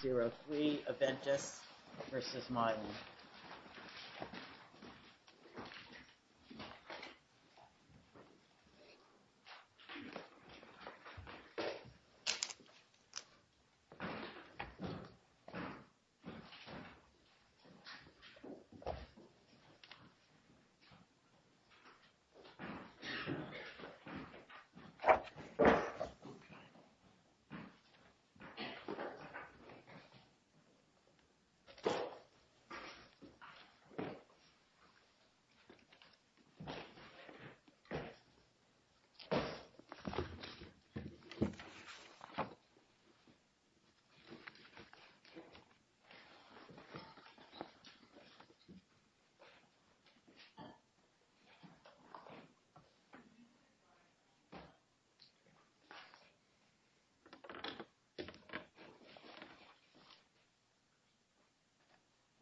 03 Aventis v. Mylan 03 Aventis Pharma S.A. v. Mylan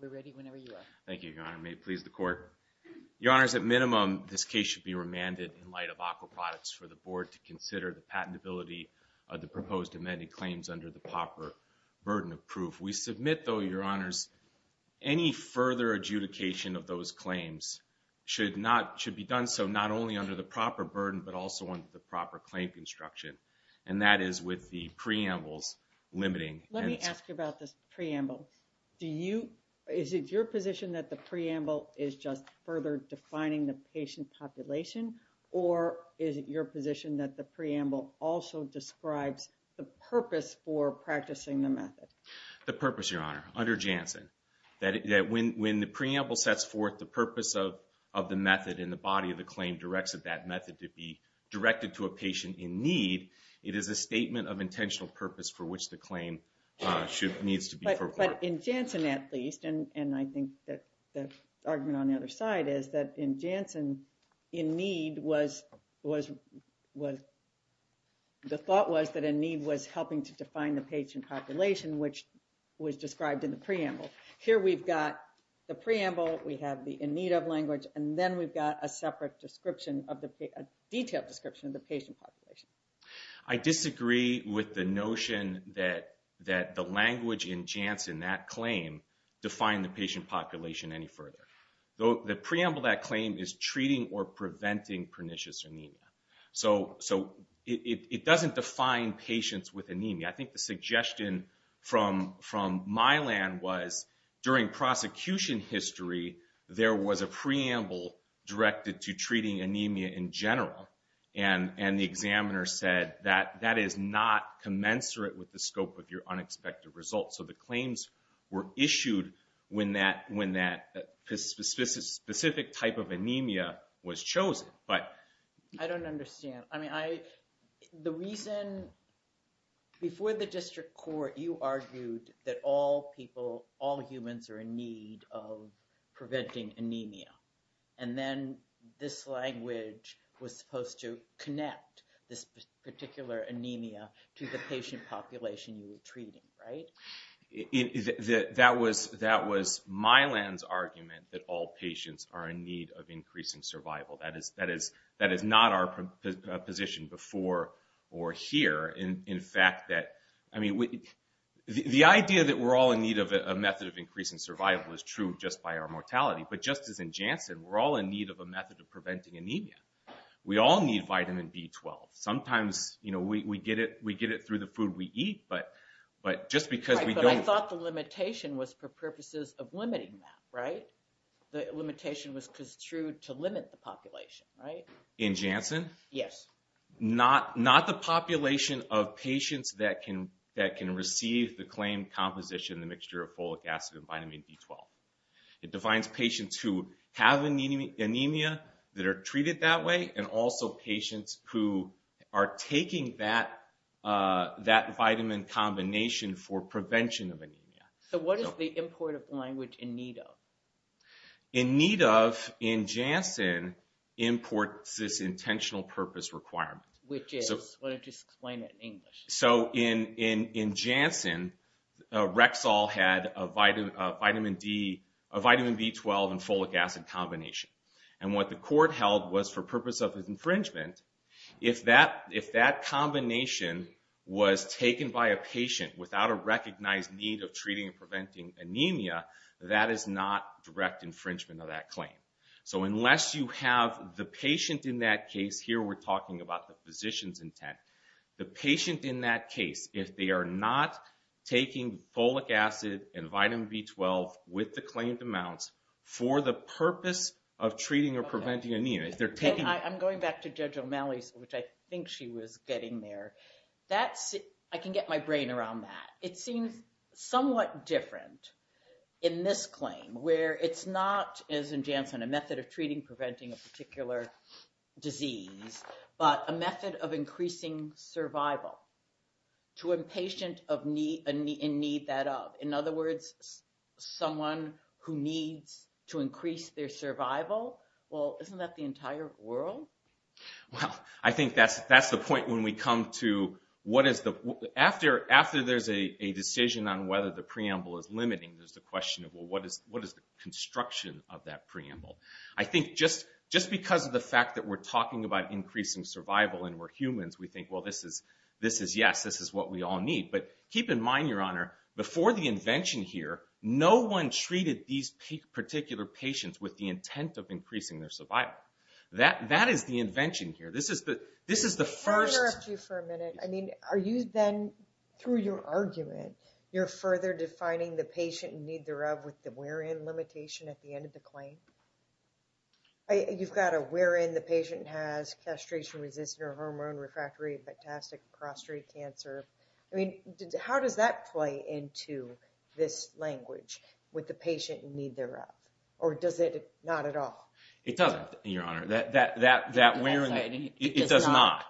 We're ready whenever you are. Thank you, Your Honor. May it please the Court? Your Honor, at minimum, this case should be remanded in light of aqua products for the Board to consider the patentability of the proposed amended claims under the proper burden of proof. We submit though, Your Honors, any further adjudication of those claims should not, should be done so not only under the proper burden but also under the proper claim construction and that is with the Preamble's limiting and I want to ask you about this Preamble. Do you, is it your position that the Preamble is just further defining the patient population or is it your position that the Preamble also describes the purpose for practicing the method? The purpose, Your Honor, under Janssen that when the Preamble sets forth the purpose of the method and the body of the claim directs that method to be directed to a patient in need it is a statement of intentional purpose for which the claim needs to be reported. But in Janssen at least and I think that the argument on the other side is that in Janssen, in need was the thought was that in need was helping to define the patient population which was described in the Preamble. Here we've got the Preamble, we have the in need of language and then we've got a separate description of the, a detailed description of the patient population. I disagree with the notion that the language in Janssen, that claim defined the patient population any further. The Preamble that claim is treating or preventing pernicious anemia. So it doesn't define patients with anemia. I think the suggestion from Milan was during prosecution history there was a Preamble directed to treating anemia in general and the examiner said that that is not commensurate with the scope of your unexpected results. So the claims were issued when that specific type of anemia was chosen but... I don't understand. I mean I, the reason before the district court you argued that all people, all humans are in need of preventing anemia and then this language was supposed to connect this particular anemia to the patient population you were treating. Right? That was Milan's argument that all patients are in need of increasing survival. That is not our position before or here. In fact that I mean, the idea that we're all in need of a method of increasing survival is true just by our mortality but just as in Janssen, we're all in need of a method of preventing anemia. We all need vitamin B12. Sometimes we get it through the food we eat but just because we don't... But I thought the limitation was for purposes of limiting that right? The limitation was construed to limit the population right? In Janssen? Yes. Not the population of patients that can receive the claim composition, the mixture of folic acid and vitamin B12. It defines patients who have anemia that are treated that way and also patients who are taking that vitamin combination for prevention of anemia. So what is the import of language in need of? In need of in Janssen imports this intentional purpose requirement. Which is? Why don't you explain it in English. So in Janssen, Rexall had a vitamin B12 and folic acid combination. And what the court held was for purpose of infringement, if that combination was taken by a patient without a recognized need of treating and preventing anemia, that is not direct infringement of that claim. So unless you have the patient in that case, here we're talking about the physician's intent. The patient in that taking folic acid and vitamin B12 with the claimed amounts for the purpose of treating or preventing anemia. I'm going back to Judge O'Malley's which I think she was getting there. I can get my brain around that. It seems somewhat different in this claim where it's not as in Janssen, a method of treating preventing a particular disease, but a method of increasing survival to a patient in need that of. In other words, someone who needs to increase their survival. Well, isn't that the entire world? Well, I think that's the point when we come to what is the after there's a decision on whether the preamble is limiting, there's the question of what is the construction of that preamble. I think just because of the fact that we're talking about increasing survival and we're humans, we think, well, this is yes, this is what we all need. Keep in mind, Your Honor, before the invention here, no one treated these particular patients with the intent of increasing their survival. That is the invention here. This is the first... Can I interrupt you for a minute? I mean, are you then through your argument, you're further defining the patient in need thereof with the where in limitation at the end of the claim? You've got a where in the patient has castration resistant or hormone refractory and metastatic prostate cancer. I mean, how does that play into this language with the patient in need thereof? Or does it not at all? It doesn't, Your Honor. That where in... It does not.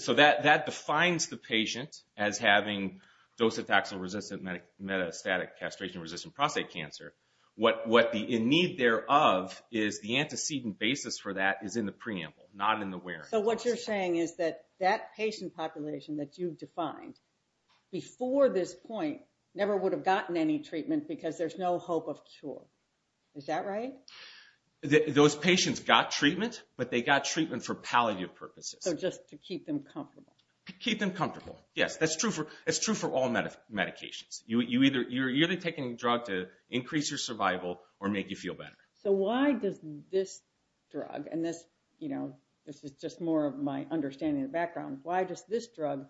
So that defines the patient as having docetaxel resistant metastatic castration resistant prostate cancer. In need thereof is the antecedent basis for that is in the preamble, not in the where in. So what you're saying is that that patient population that you've defined before this point never would have gotten any treatment because there's no hope of cure. Is that right? Those patients got treatment, but they got treatment for palliative purposes. So just to keep them comfortable. To keep them comfortable. Yes. That's true for all medications. You're either taking a drug to increase your survival or make you feel better. So why does this drug, and this you know, this is just more of my understanding and background. Why does this drug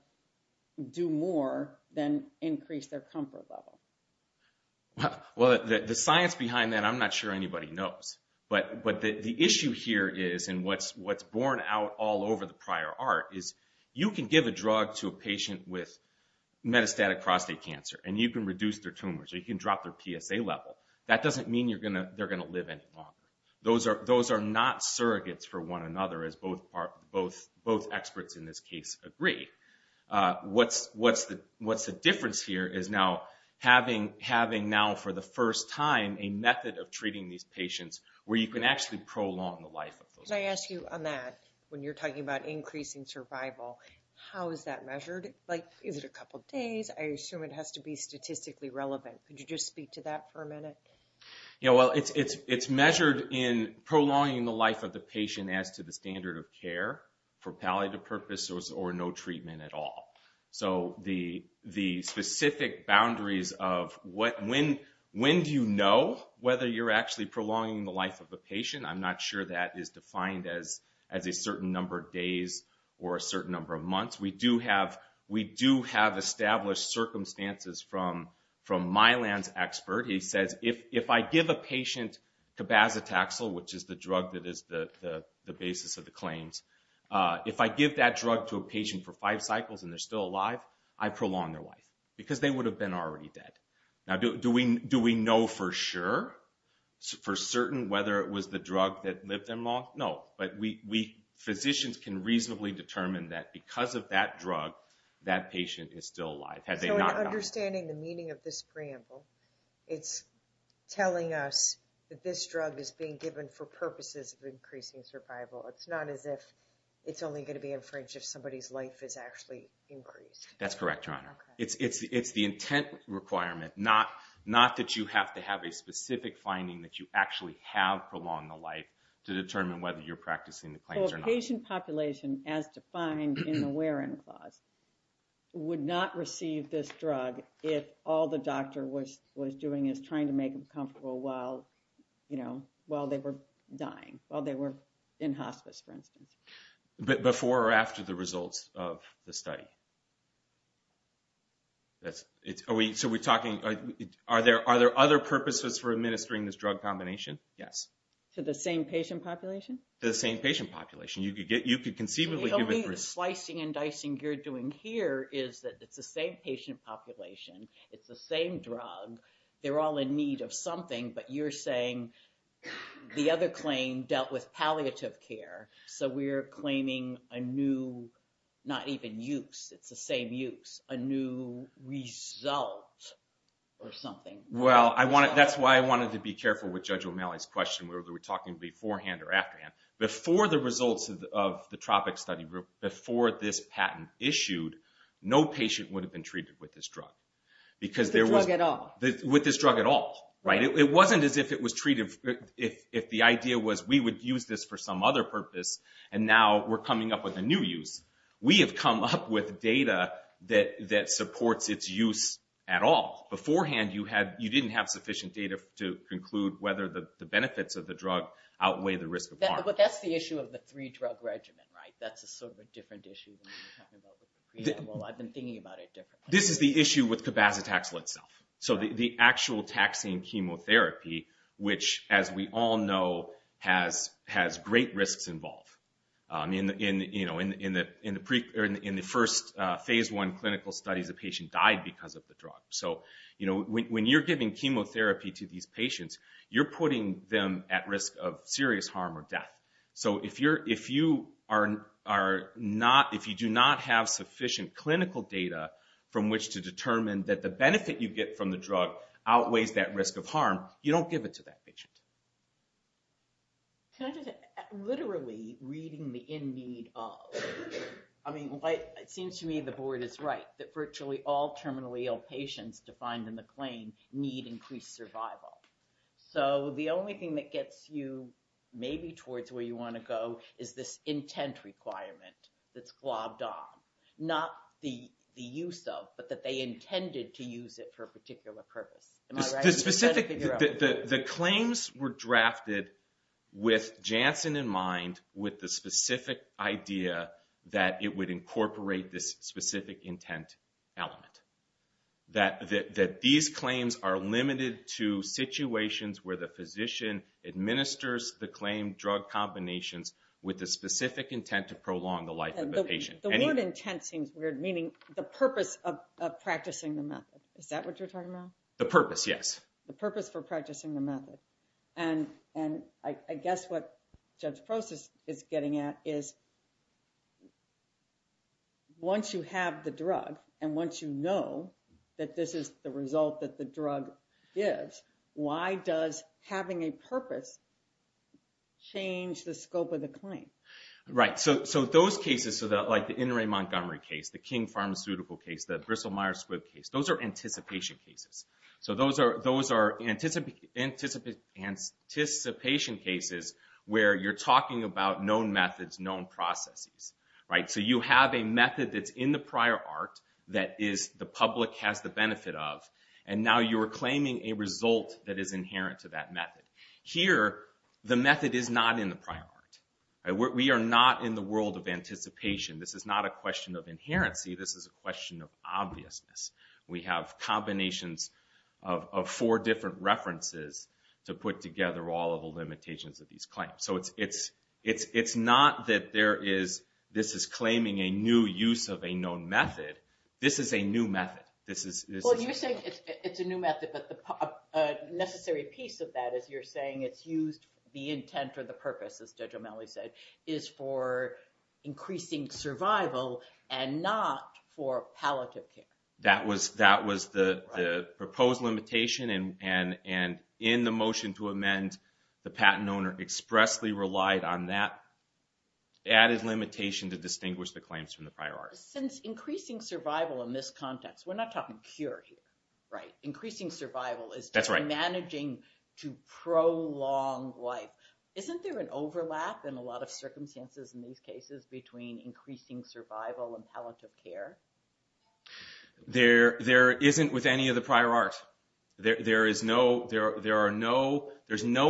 do more than increase their comfort level? Well, the science behind that, I'm not sure anybody knows. But the issue here is, and what's borne out all over the prior art is you can give a drug to a patient with metastatic prostate cancer, and you can reduce their tumors. You can mean they're going to live any longer. Those are not surrogates for one another as both experts in this case agree. What's the difference here is now having now for the first time a method of treating these patients where you can actually prolong the life of those patients. Could I ask you on that when you're talking about increasing survival, how is that measured? Is it a couple days? I assume it has to be statistically relevant. Could you just speak to that for a minute? Yeah, well, it's measured in prolonging the life of the patient as to the standard of care for palliative purposes or no treatment at all. So the specific boundaries of when do you know whether you're actually prolonging the life of the patient, I'm not sure that is defined as a certain number of days or a certain number of months. We do have established circumstances from Mylan's expert. He says if I give a patient cabazitaxel, which is the drug that is the basis of the claims, if I give that drug to a patient for five cycles and they're still alive, I prolong their life because they would have been already dead. Now, do we know for sure, for certain, whether it was the drug that lived them long? No, but physicians can reasonably determine that because of that drug, that understanding the meaning of this preamble, it's telling us that this drug is being given for purposes of increasing survival. It's not as if it's only going to be infringed if somebody's life is actually increased. That's correct, Your Honor. It's the intent requirement, not that you have to have a specific finding that you actually have prolonged the life to determine whether you're practicing the claims or not. So a patient population, as defined in the wear-in clause, would not receive this drug if all the doctor was doing is trying to make them comfortable while they were dying, while they were in hospice, for instance. Before or after the results of the study? So we're talking, are there other purposes for administering this drug combination? Yes. To the same patient population? To the same patient population. You could conceivably give it... The slicing and dicing you're doing here is that it's the same patient population, it's the same drug, they're all in need of something, but you're saying the other claim dealt with palliative care, so we're claiming a new, not even use, it's the same use, a new result or something. Well, that's why I wanted to be careful with Judge O'Malley's question, whether we're talking beforehand or afterhand. Before the results of the Tropic Study Group, before this patent issued, no patient would have been treated with this drug. With the drug at all? With this drug at all. It wasn't as if it was treated, if the idea was we would use this for some other purpose, and now we're coming up with a new use. We have come up with data that supports its use at all. Beforehand, you didn't have sufficient data to conclude whether the benefits of the drug outweigh the risk of harm. But that's the issue of the three-drug regimen, right? That's a sort of different issue. I've been thinking about it differently. This is the issue with cabazitaxel itself. The actual taxing chemotherapy, which, as we all know, has great risks involved. In the first Phase I clinical studies, a patient died because of the drug. When you're giving chemotherapy to these patients, you're putting them at risk of serious harm or death. If you do not have sufficient clinical data from which to determine that the benefit you get from the drug outweighs that risk of harm, you don't give it to that patient. Can I just add, literally reading the in need of, it seems to me the board is right, that virtually all terminally ill patients defined in the claim need increased survival. The only thing that gets you maybe towards where you want to go is this intent requirement that's globbed on. Not the use of, but that they intended to use it for a particular purpose. Am I right? The claims were drafted with Janssen in mind with the specific idea that it would incorporate this specific intent element. That these claims are limited to situations where the physician administers the claim drug combinations with the specific intent to prolong the life of the patient. The word intent seems weird, meaning the purpose of practicing the method. Is that what you're talking about? The purpose, yes. The purpose for practicing the method. I guess what Judge Prost is getting at is once you have the drug, and once you know that this is the result that the drug is, why does having a purpose change the scope of the claim? Those cases, like the Montgomery case, the King Pharmaceutical case, the Bristol Myers-Squibb case, those are anticipation cases. Those are anticipation cases where you're talking about known methods, known processes. You have a method that's in the prior art that the public has the benefit of, and now you're claiming a result that is inherent to that method. Here, the method is not in the prior art. We are not in the world of anticipation. This is not a question of inherency, this is a question of obviousness. We have combinations of four different references to put together all of the limitations of these claims. It's not that this is claiming a new use of a known method. This is a new method. You're saying it's a new method, but the necessary piece of that is you're saying it's used the intent or the purpose, as Judge O'Malley said, is for increasing survival and not for palliative care. That was the proposed limitation, and in the motion to amend the patent owner expressly relied on that added limitation to distinguish the claims from the prior art. Since increasing survival in this context, we're not talking cure here. Increasing survival is managing to prolong life. Isn't there an overlap in a lot of circumstances in these cases between increasing survival and palliative care? There isn't with any of the prior art. There is no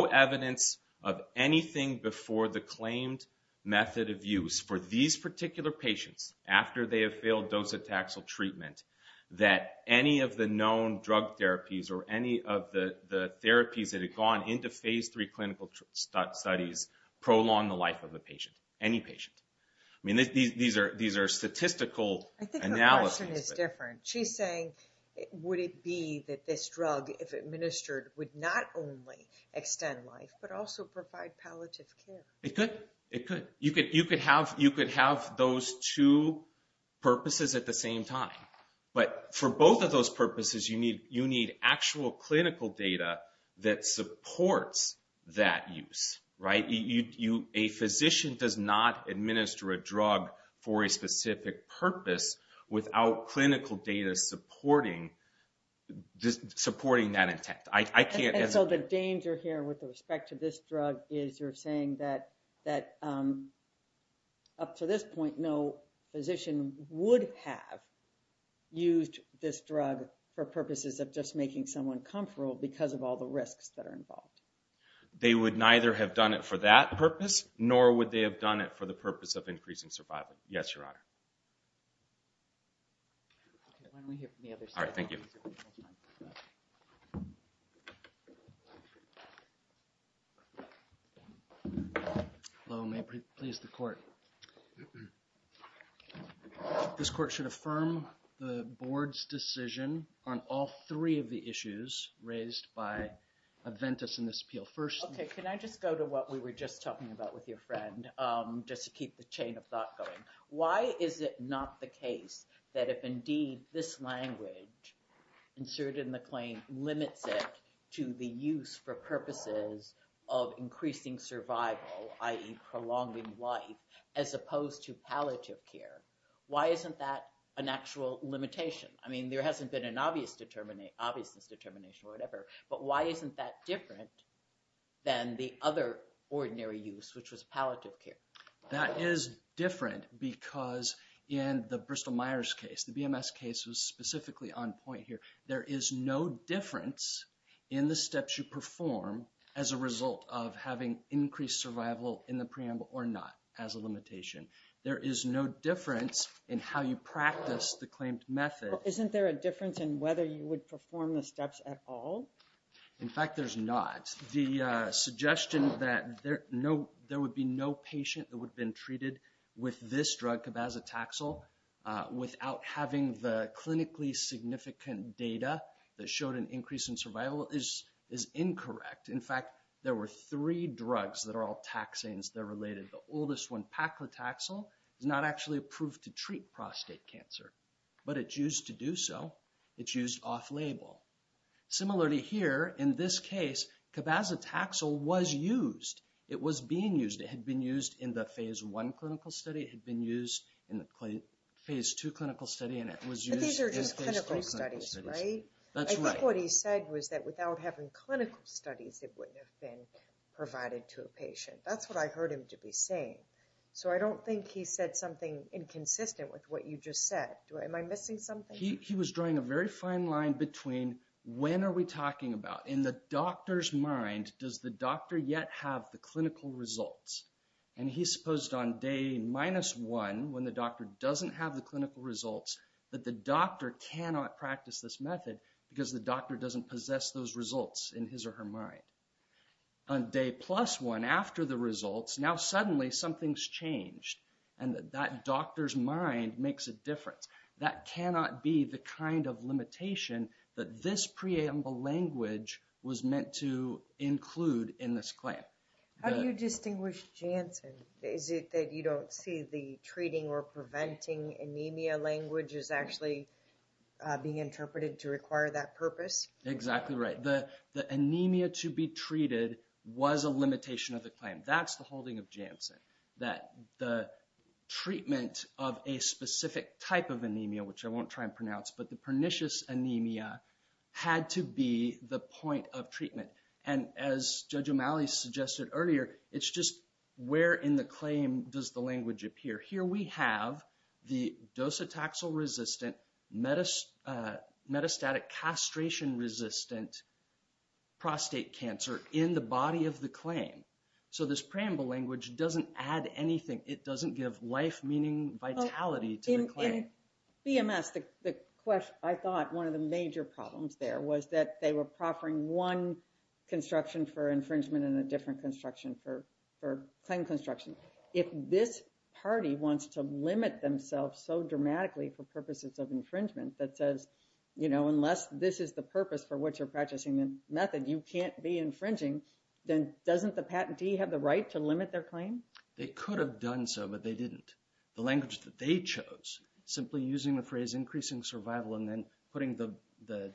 evidence of anything before the claimed method of use for these particular patients after they have failed docetaxel treatment that any of the known drug therapies or any of the therapies that have gone into phase three clinical studies prolong the life of the patient, any patient. These are statistical analyses. I think the question is different. She's saying, would it be that this drug, if administered, would not only extend life but also provide palliative care? It could. You could have those two purposes at the same time, but for both of those purposes, you need actual clinical data that supports that use. A physician does not administer a drug for a specific purpose without clinical data supporting that intent. The danger here with respect to this drug is you're saying that up to this point, no physician would have used this drug for purposes of just making someone comfortable because of all the risks that are involved. They would neither have done it for that purpose, nor would they have done it for the purpose of increasing survival. Yes, Your Honor. Thank you. This court should affirm the Board's decision on all three of the issues raised by Aventis in this appeal. Can I just go to what we were just talking about with your friend just to keep the chain of thought going? Why is it not the case that if indeed this language inserted in the claim limits it to the use for purposes of increasing survival, i.e. prolonging life, as opposed to palliative care, why isn't that an actual limitation? I mean, there hasn't been an obviousness determination or whatever, but why isn't that different than the other ordinary use, which was palliative care? That is different because in the Bristol Myers case, the BMS case was specifically on point here. There is no difference in the steps you perform as a result of having increased survival in the preamble or not as a limitation. There is no difference in how you practice the claimed method. Isn't there a difference in whether you would perform the steps at all? In fact, there's not. The suggestion that there would be no patient that would have been treated with this drug, cabazitaxel, without having the clinically significant data that showed an increase in survival is incorrect. In fact, there were three drugs that are all taxanes that are related. The oldest one, paclitaxel, is not actually approved to treat prostate cancer, but it's used to do so. It's used off-label. Similarly here, in this case, cabazitaxel was used. It was being used. It had been used in the Phase 1 clinical study. It had been used in the Phase 2 clinical study. But these are just clinical studies, right? I think what he said was that without having clinical studies it wouldn't have been provided to a patient. That's what I heard him to be saying. So I don't think he said something inconsistent with what you just said. Am I missing something? He was drawing a very fine line between, when are we talking about? In the doctor's mind, does the doctor yet have the clinical results? And he supposed on day minus 1, when the doctor doesn't have the clinical results, that the doctor cannot practice this method, because the doctor doesn't possess those results in his or her mind. On day plus 1, after the results, now suddenly something's changed. And that doctor's mind makes a difference. That cannot be the kind of limitation that this preamble language was meant to include in this claim. How do you distinguish Janssen? Is it that you don't see the treating or preventing anemia language is actually being interpreted to require that purpose? Exactly right. The anemia to be treated was a limitation of the claim. That's the holding of Janssen. That the specific type of anemia, which I won't try and pronounce, but the pernicious anemia had to be the point of treatment. And as Judge O'Malley suggested earlier, it's just where in the claim does the language appear? Here we have the docetaxel-resistant, metastatic castration resistant prostate cancer in the body of the claim. So this preamble language doesn't add anything. It doesn't add any to the claim. In BMS, I thought one of the major problems there was that they were proffering one construction for infringement and a different construction for claim construction. If this party wants to limit themselves so dramatically for purposes of infringement that says, you know, unless this is the purpose for which you're practicing the method, you can't be infringing, then doesn't the patentee have the right to limit their claim? They could have done so, but they didn't. The language that they chose, simply using the phrase increasing survival and then putting the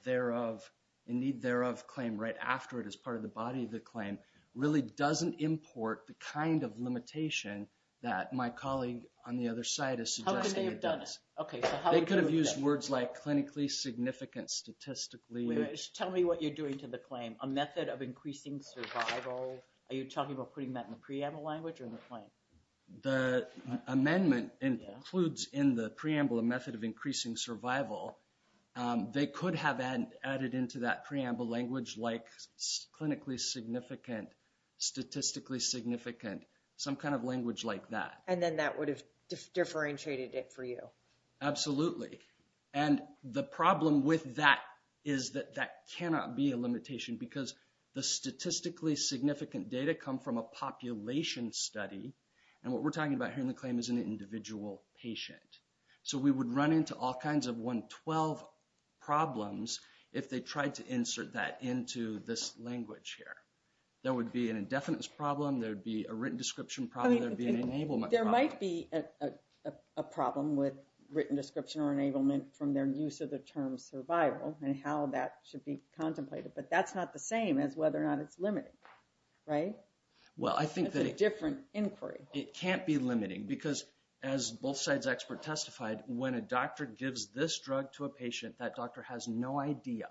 thereof indeed thereof claim right after it as part of the body of the claim, really doesn't import the kind of limitation that my colleague on the other side is suggesting it does. They could have used words like clinically significant, statistically Tell me what you're doing to the claim. A method of increasing survival? Are you talking about putting that in the preamble language or in the claim? The amendment includes in the preamble a method of increasing survival. They could have added into that preamble language like clinically significant, statistically significant, some kind of language like that. And then that would have differentiated it for you. Absolutely. And the problem with that is that that cannot be a limitation because the statistically significant data come from a population study. And what we're talking about here in the claim is an individual patient. So we would run into all kinds of 112 problems if they tried to insert that into this language here. There would be an indefinite problem, there would be a written description problem, there would be an enablement problem. There might be a problem with written description or enablement from their use of the term survival and how that should be contemplated. But that's not the same as whether or not it's limiting. Right? It's a different inquiry. It can't be limiting because as both sides expert testified, when a doctor gives this drug to a patient, that doctor has no idea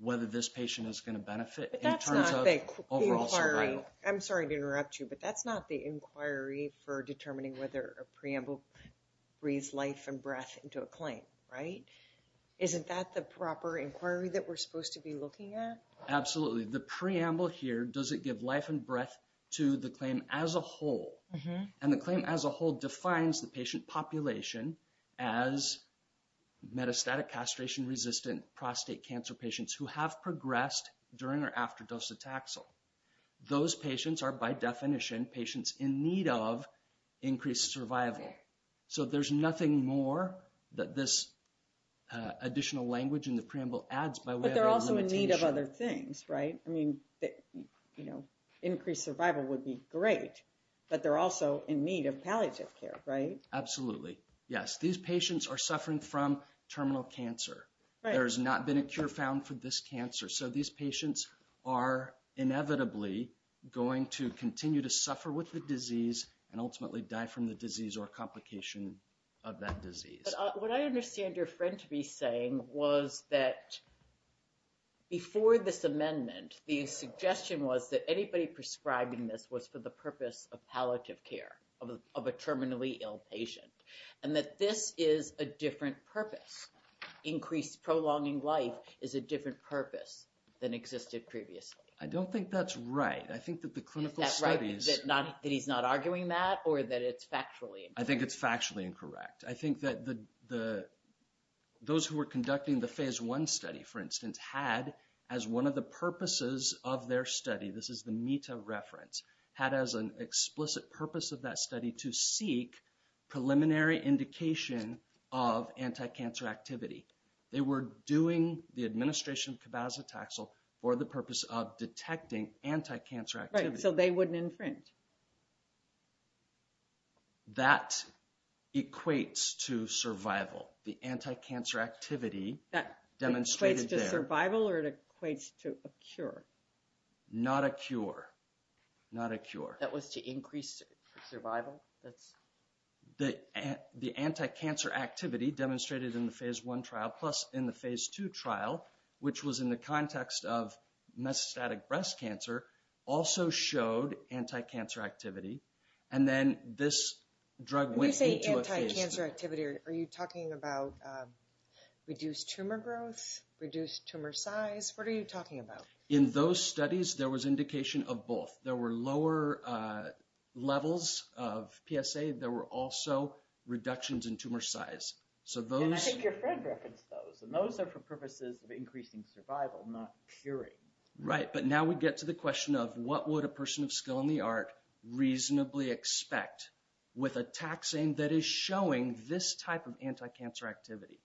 whether this patient is going to benefit in terms of overall survival. I'm sorry to interrupt you, but that's not the inquiry for determining whether a preamble breathes life and breath into a claim, right? Isn't that the proper inquiry that we're supposed to be looking at? Absolutely. The preamble here doesn't give life and breath to the claim as a whole. And the claim as a whole defines the patient population as metastatic castration resistant prostate cancer patients who have progressed during or after docetaxel. Those patients are by definition patients in need of increased survival. So there's nothing more that this additional language in the preamble adds by way of a limitation. But they're also in need of other things, right? I mean, increased survival would be great, but they're also in need of palliative care, right? Absolutely. Yes. These patients are suffering from terminal cancer. There has not been a cure found for this cancer. So these patients are inevitably going to continue to suffer with the disease and ultimately die from the disease or complication of that disease. What I understand your friend to be saying was that before this amendment, the suggestion was that anybody prescribing this was for the purpose of palliative care of a terminally ill patient. And that this is a different purpose. Increased prolonging life is a different purpose than existed previously. I don't think that's right. I think that the clinical studies... Is that right? That he's not arguing that or that it's factually incorrect? I think it's those who were conducting the Phase 1 study, for instance, had as one of the purposes of their study, this is the META reference, had as an explicit purpose of that study to seek preliminary indication of anti-cancer activity. They were doing the administration of cabazitaxel for the purpose of detecting anti-cancer activity. Right, so they wouldn't infringe. That equates to survival. The anti-cancer activity demonstrated... That equates to survival or it equates to a cure? Not a cure. Not a cure. That was to increase survival? The anti-cancer activity demonstrated in the Phase 1 trial plus in the Phase 2 trial, which was in the context of mesostatic breast cancer, also showed anti-cancer activity. And then this drug went into a phase 2. When you say anti-cancer activity, are you talking about reduced tumor growth, reduced tumor size? What are you talking about? In those studies, there was indication of both. There were lower levels of PSA. There were also reductions in tumor size. And I think your friend referenced those. And those are for purposes of increasing survival, not curing. Right. But now we get to the question of what would a person of skill in the art reasonably expect with a tax aim that is showing this type of anti-cancer activity?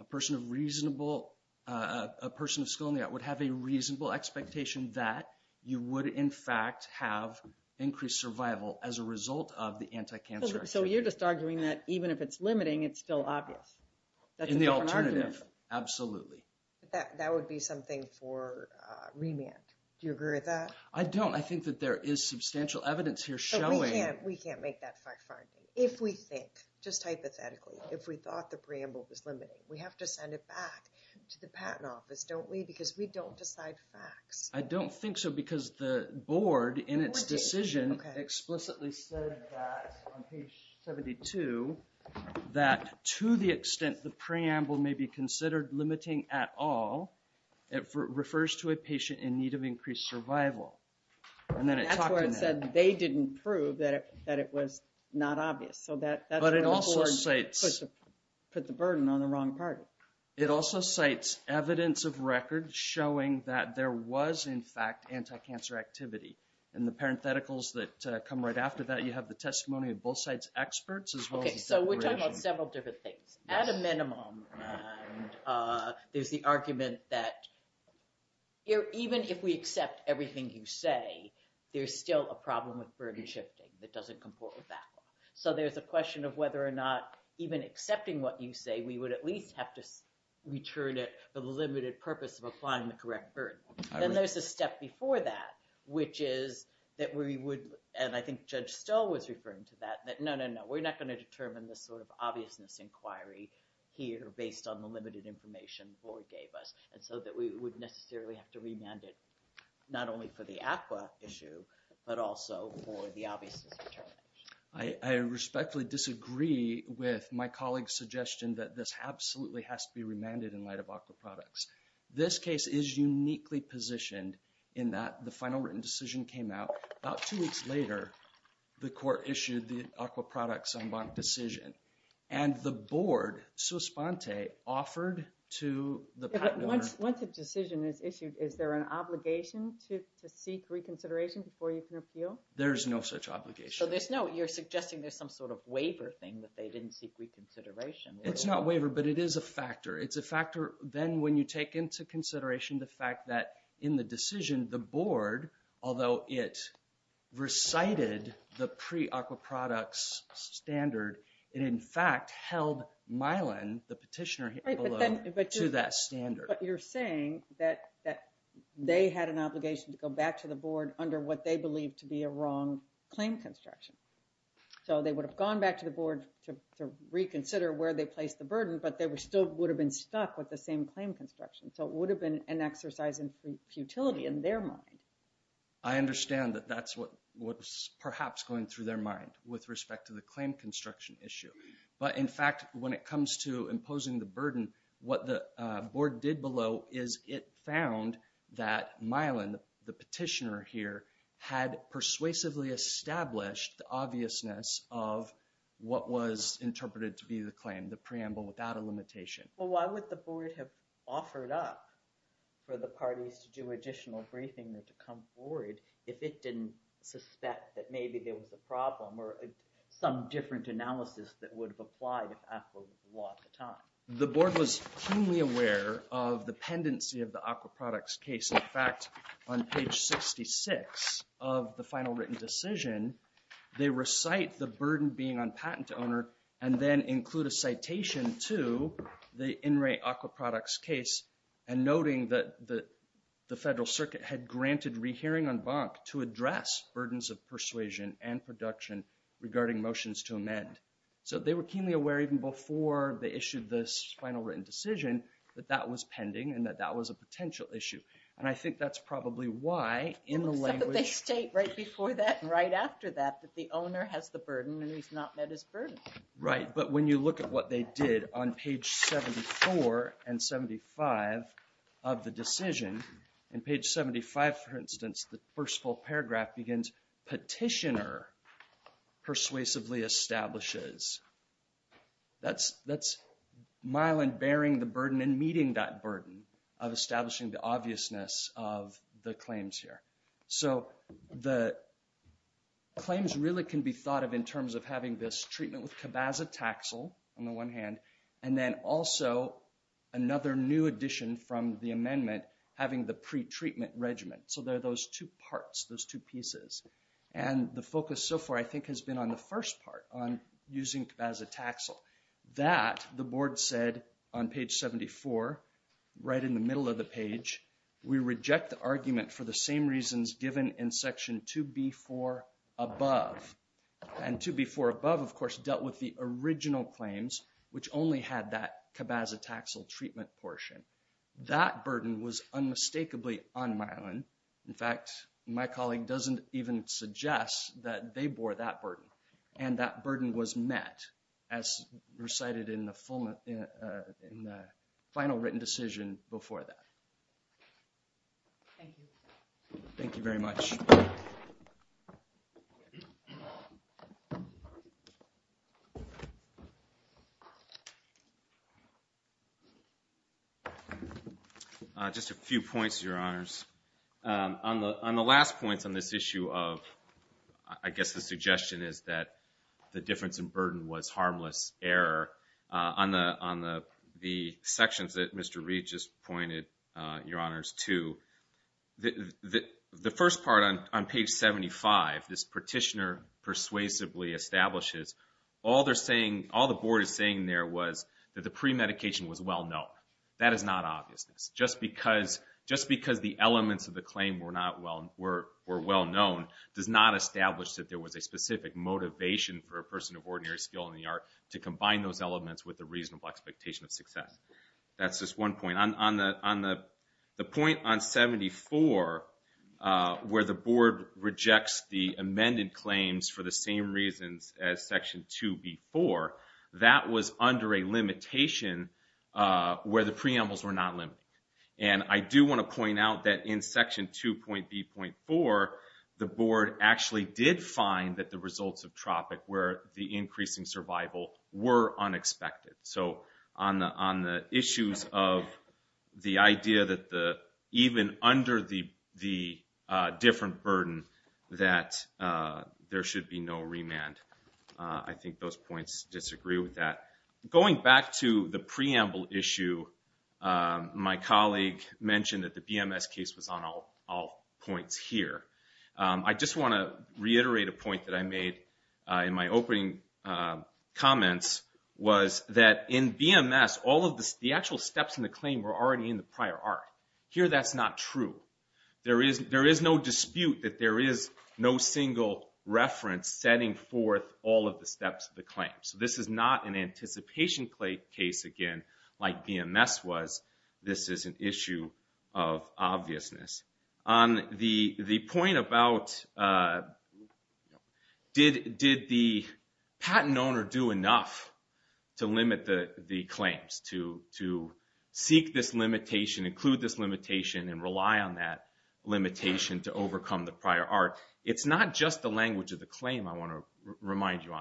A person of reasonable... A person of skill in the art would have a reasonable expectation that you would, in fact, have increased survival as a result of the anti-cancer activity. So you're just arguing that even if it's limiting, it's still obvious? In the alternative. Absolutely. That would be something for remand. Do you agree with that? I don't. I think that there is substantial evidence here showing... We can't make that fact finding. If we think, just hypothetically, if we thought the preamble was limiting, we have to send it back to the patent office, don't we? Because we don't decide facts. I don't think so because the board, in its decision, explicitly said that on page 72 that to the extent the preamble may be considered limiting at all, it refers to a patient in need of increased survival. That's where it said they didn't prove that it was not obvious. So that's where the board put the burden on the wrong party. It also cites evidence of record showing that there was, in fact, anti-cancer activity. And the parentheticals that come right after that, you have the testimony of both sides' experts as well as the declaration. So we're talking about several different things. At a minimum, there's the argument that even if we accept everything you say, there's still a problem with burden shifting that doesn't comport with that law. So there's a question of whether or not, even accepting what you say, we would at least have to return it for the limited purpose of applying the correct burden. Then there's a step before that, which is that we would, and I think Judge Stoll was referring to that, that no, no, no, we're not going to determine this sort of based on the limited information the board gave us. And so that we would necessarily have to remand it, not only for the ACWA issue, but also for the obvious determination. I respectfully disagree with my colleague's suggestion that this absolutely has to be remanded in light of ACWA products. This case is uniquely positioned in that the final written decision came out about two weeks later. The court issued the ACWA products en banc decision. And the board, sous-spante, offered to the partner... Once a decision is issued, is there an obligation to seek reconsideration before you can appeal? There's no such obligation. So there's no, you're suggesting there's some sort of waiver thing that they didn't seek reconsideration. It's not waiver, but it is a factor. It's a factor, then when you take into consideration the fact that in the decision, the board, although it recited the pre-ACWA products standard, it in fact held Milan, the petitioner below, to that standard. But you're saying that they had an obligation to go back to the board under what they believed to be a wrong claim construction. So they would have gone back to the board to reconsider where they placed the burden, but they still would have been stuck with the same claim construction. So it would have been an exercise in futility in their mind. I understand that that's what was perhaps going through their mind with respect to the claim construction issue. But in fact when it comes to imposing the burden, what the board did below is it found that Milan, the petitioner here, had persuasively established the obviousness of what was interpreted to be the claim, the preamble without a limitation. Well why would the board have offered up for the parties to do additional briefing and to come forward if it didn't suspect that maybe there was a problem or some different analysis that would have applied if ACWA was at the time. The board was keenly aware of the pendency of the ACWA products case. In fact, on page 66 of the final written decision, they recite the burden being on patent owner and then include a citation to the in re ACWA products case and noting that the federal circuit had granted rehearing on bonk to address burdens of persuasion and production regarding motions to amend. So they were keenly aware even before they issued this final written decision that that was pending and that that was a potential issue. And I think that's probably why in the language... Except that they state right before that and right after that that the owner has the burden and he's not met his burden. Right, but when you look at what they did on page 74 and 75 of the decision, in page 75 for instance, the first full paragraph begins, petitioner persuasively establishes. That's Mylon bearing the burden and meeting that burden of establishing the obviousness of the claims here. So the claims really can be thought of in terms of having this treatment with cabazitaxel on the one hand and then also another new addition from the amendment having the pretreatment regimen. So there are those two parts, those two pieces. And the focus so far I think has been on the first part, on using cabazitaxel. That the board said on page 74 right in the middle of the page we reject the argument for the same reasons given in section 2B4 above. And 2B4 above of course dealt with the original claims which only had that cabazitaxel treatment portion. That burden was unmistakably on Mylon. In fact my colleague doesn't even suggest that they bore that burden. And that burden was met as recited in the final written decision before that. Thank you. Thank you very much. Just a few points your honors. On the last points on this issue of I guess the suggestion is that the difference in burden was harmless error. On the sections that Mr. Reed just pointed your honors to the first part this petitioner persuasively establishes all they're saying all the board is saying is that the premedication was well known. That is not obvious. Just because the elements of the claim were well known does not establish that there was a specific motivation for a person of ordinary skill in the art to combine those elements with a reasonable expectation of success. That's just one point. The point on 74 where the board rejects the amended claims for the same reasons as section 2B4, that was under a limitation where the preambles were not limited. I do want to point out that in section 2.B.4 the board actually did find that the results of Tropic where the increasing survival were unexpected. On the issues of the idea that even under the different burden that there should be no remand. I think those points disagree with that. Going back to the preamble issue, my colleague mentioned that the BMS case was on all points here. I just want to reiterate a point that I made in my opening comments was that in BMS all of the actual steps in the claim were already in the prior art. Here that's not true. There is no dispute that there is no single reference setting forth all of the steps of the claim. This is not an anticipation case again like BMS was. This is an issue of obviousness. On the point about did the patent owner do enough to limit the claims, to seek this limitation, include this limitation and rely on that it's not just the language of the claim I want to remind you.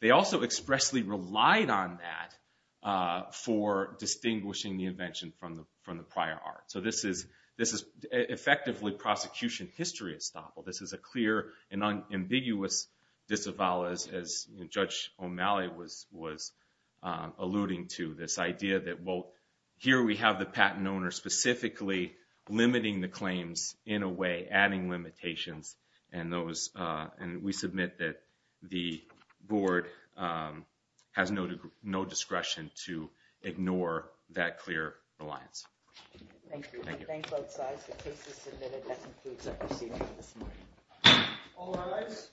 They also expressly relied on that for distinguishing the invention from the prior art. This is effectively prosecution history at Staple. This is a clear and ambiguous disavowal as Judge O'Malley was alluding to this idea that here we have the patent owner specifically limiting the claims in a way adding limitations and we submit that the board has no discretion to ignore that clear reliance. Thank you. The case is submitted. That concludes our proceedings. All rise.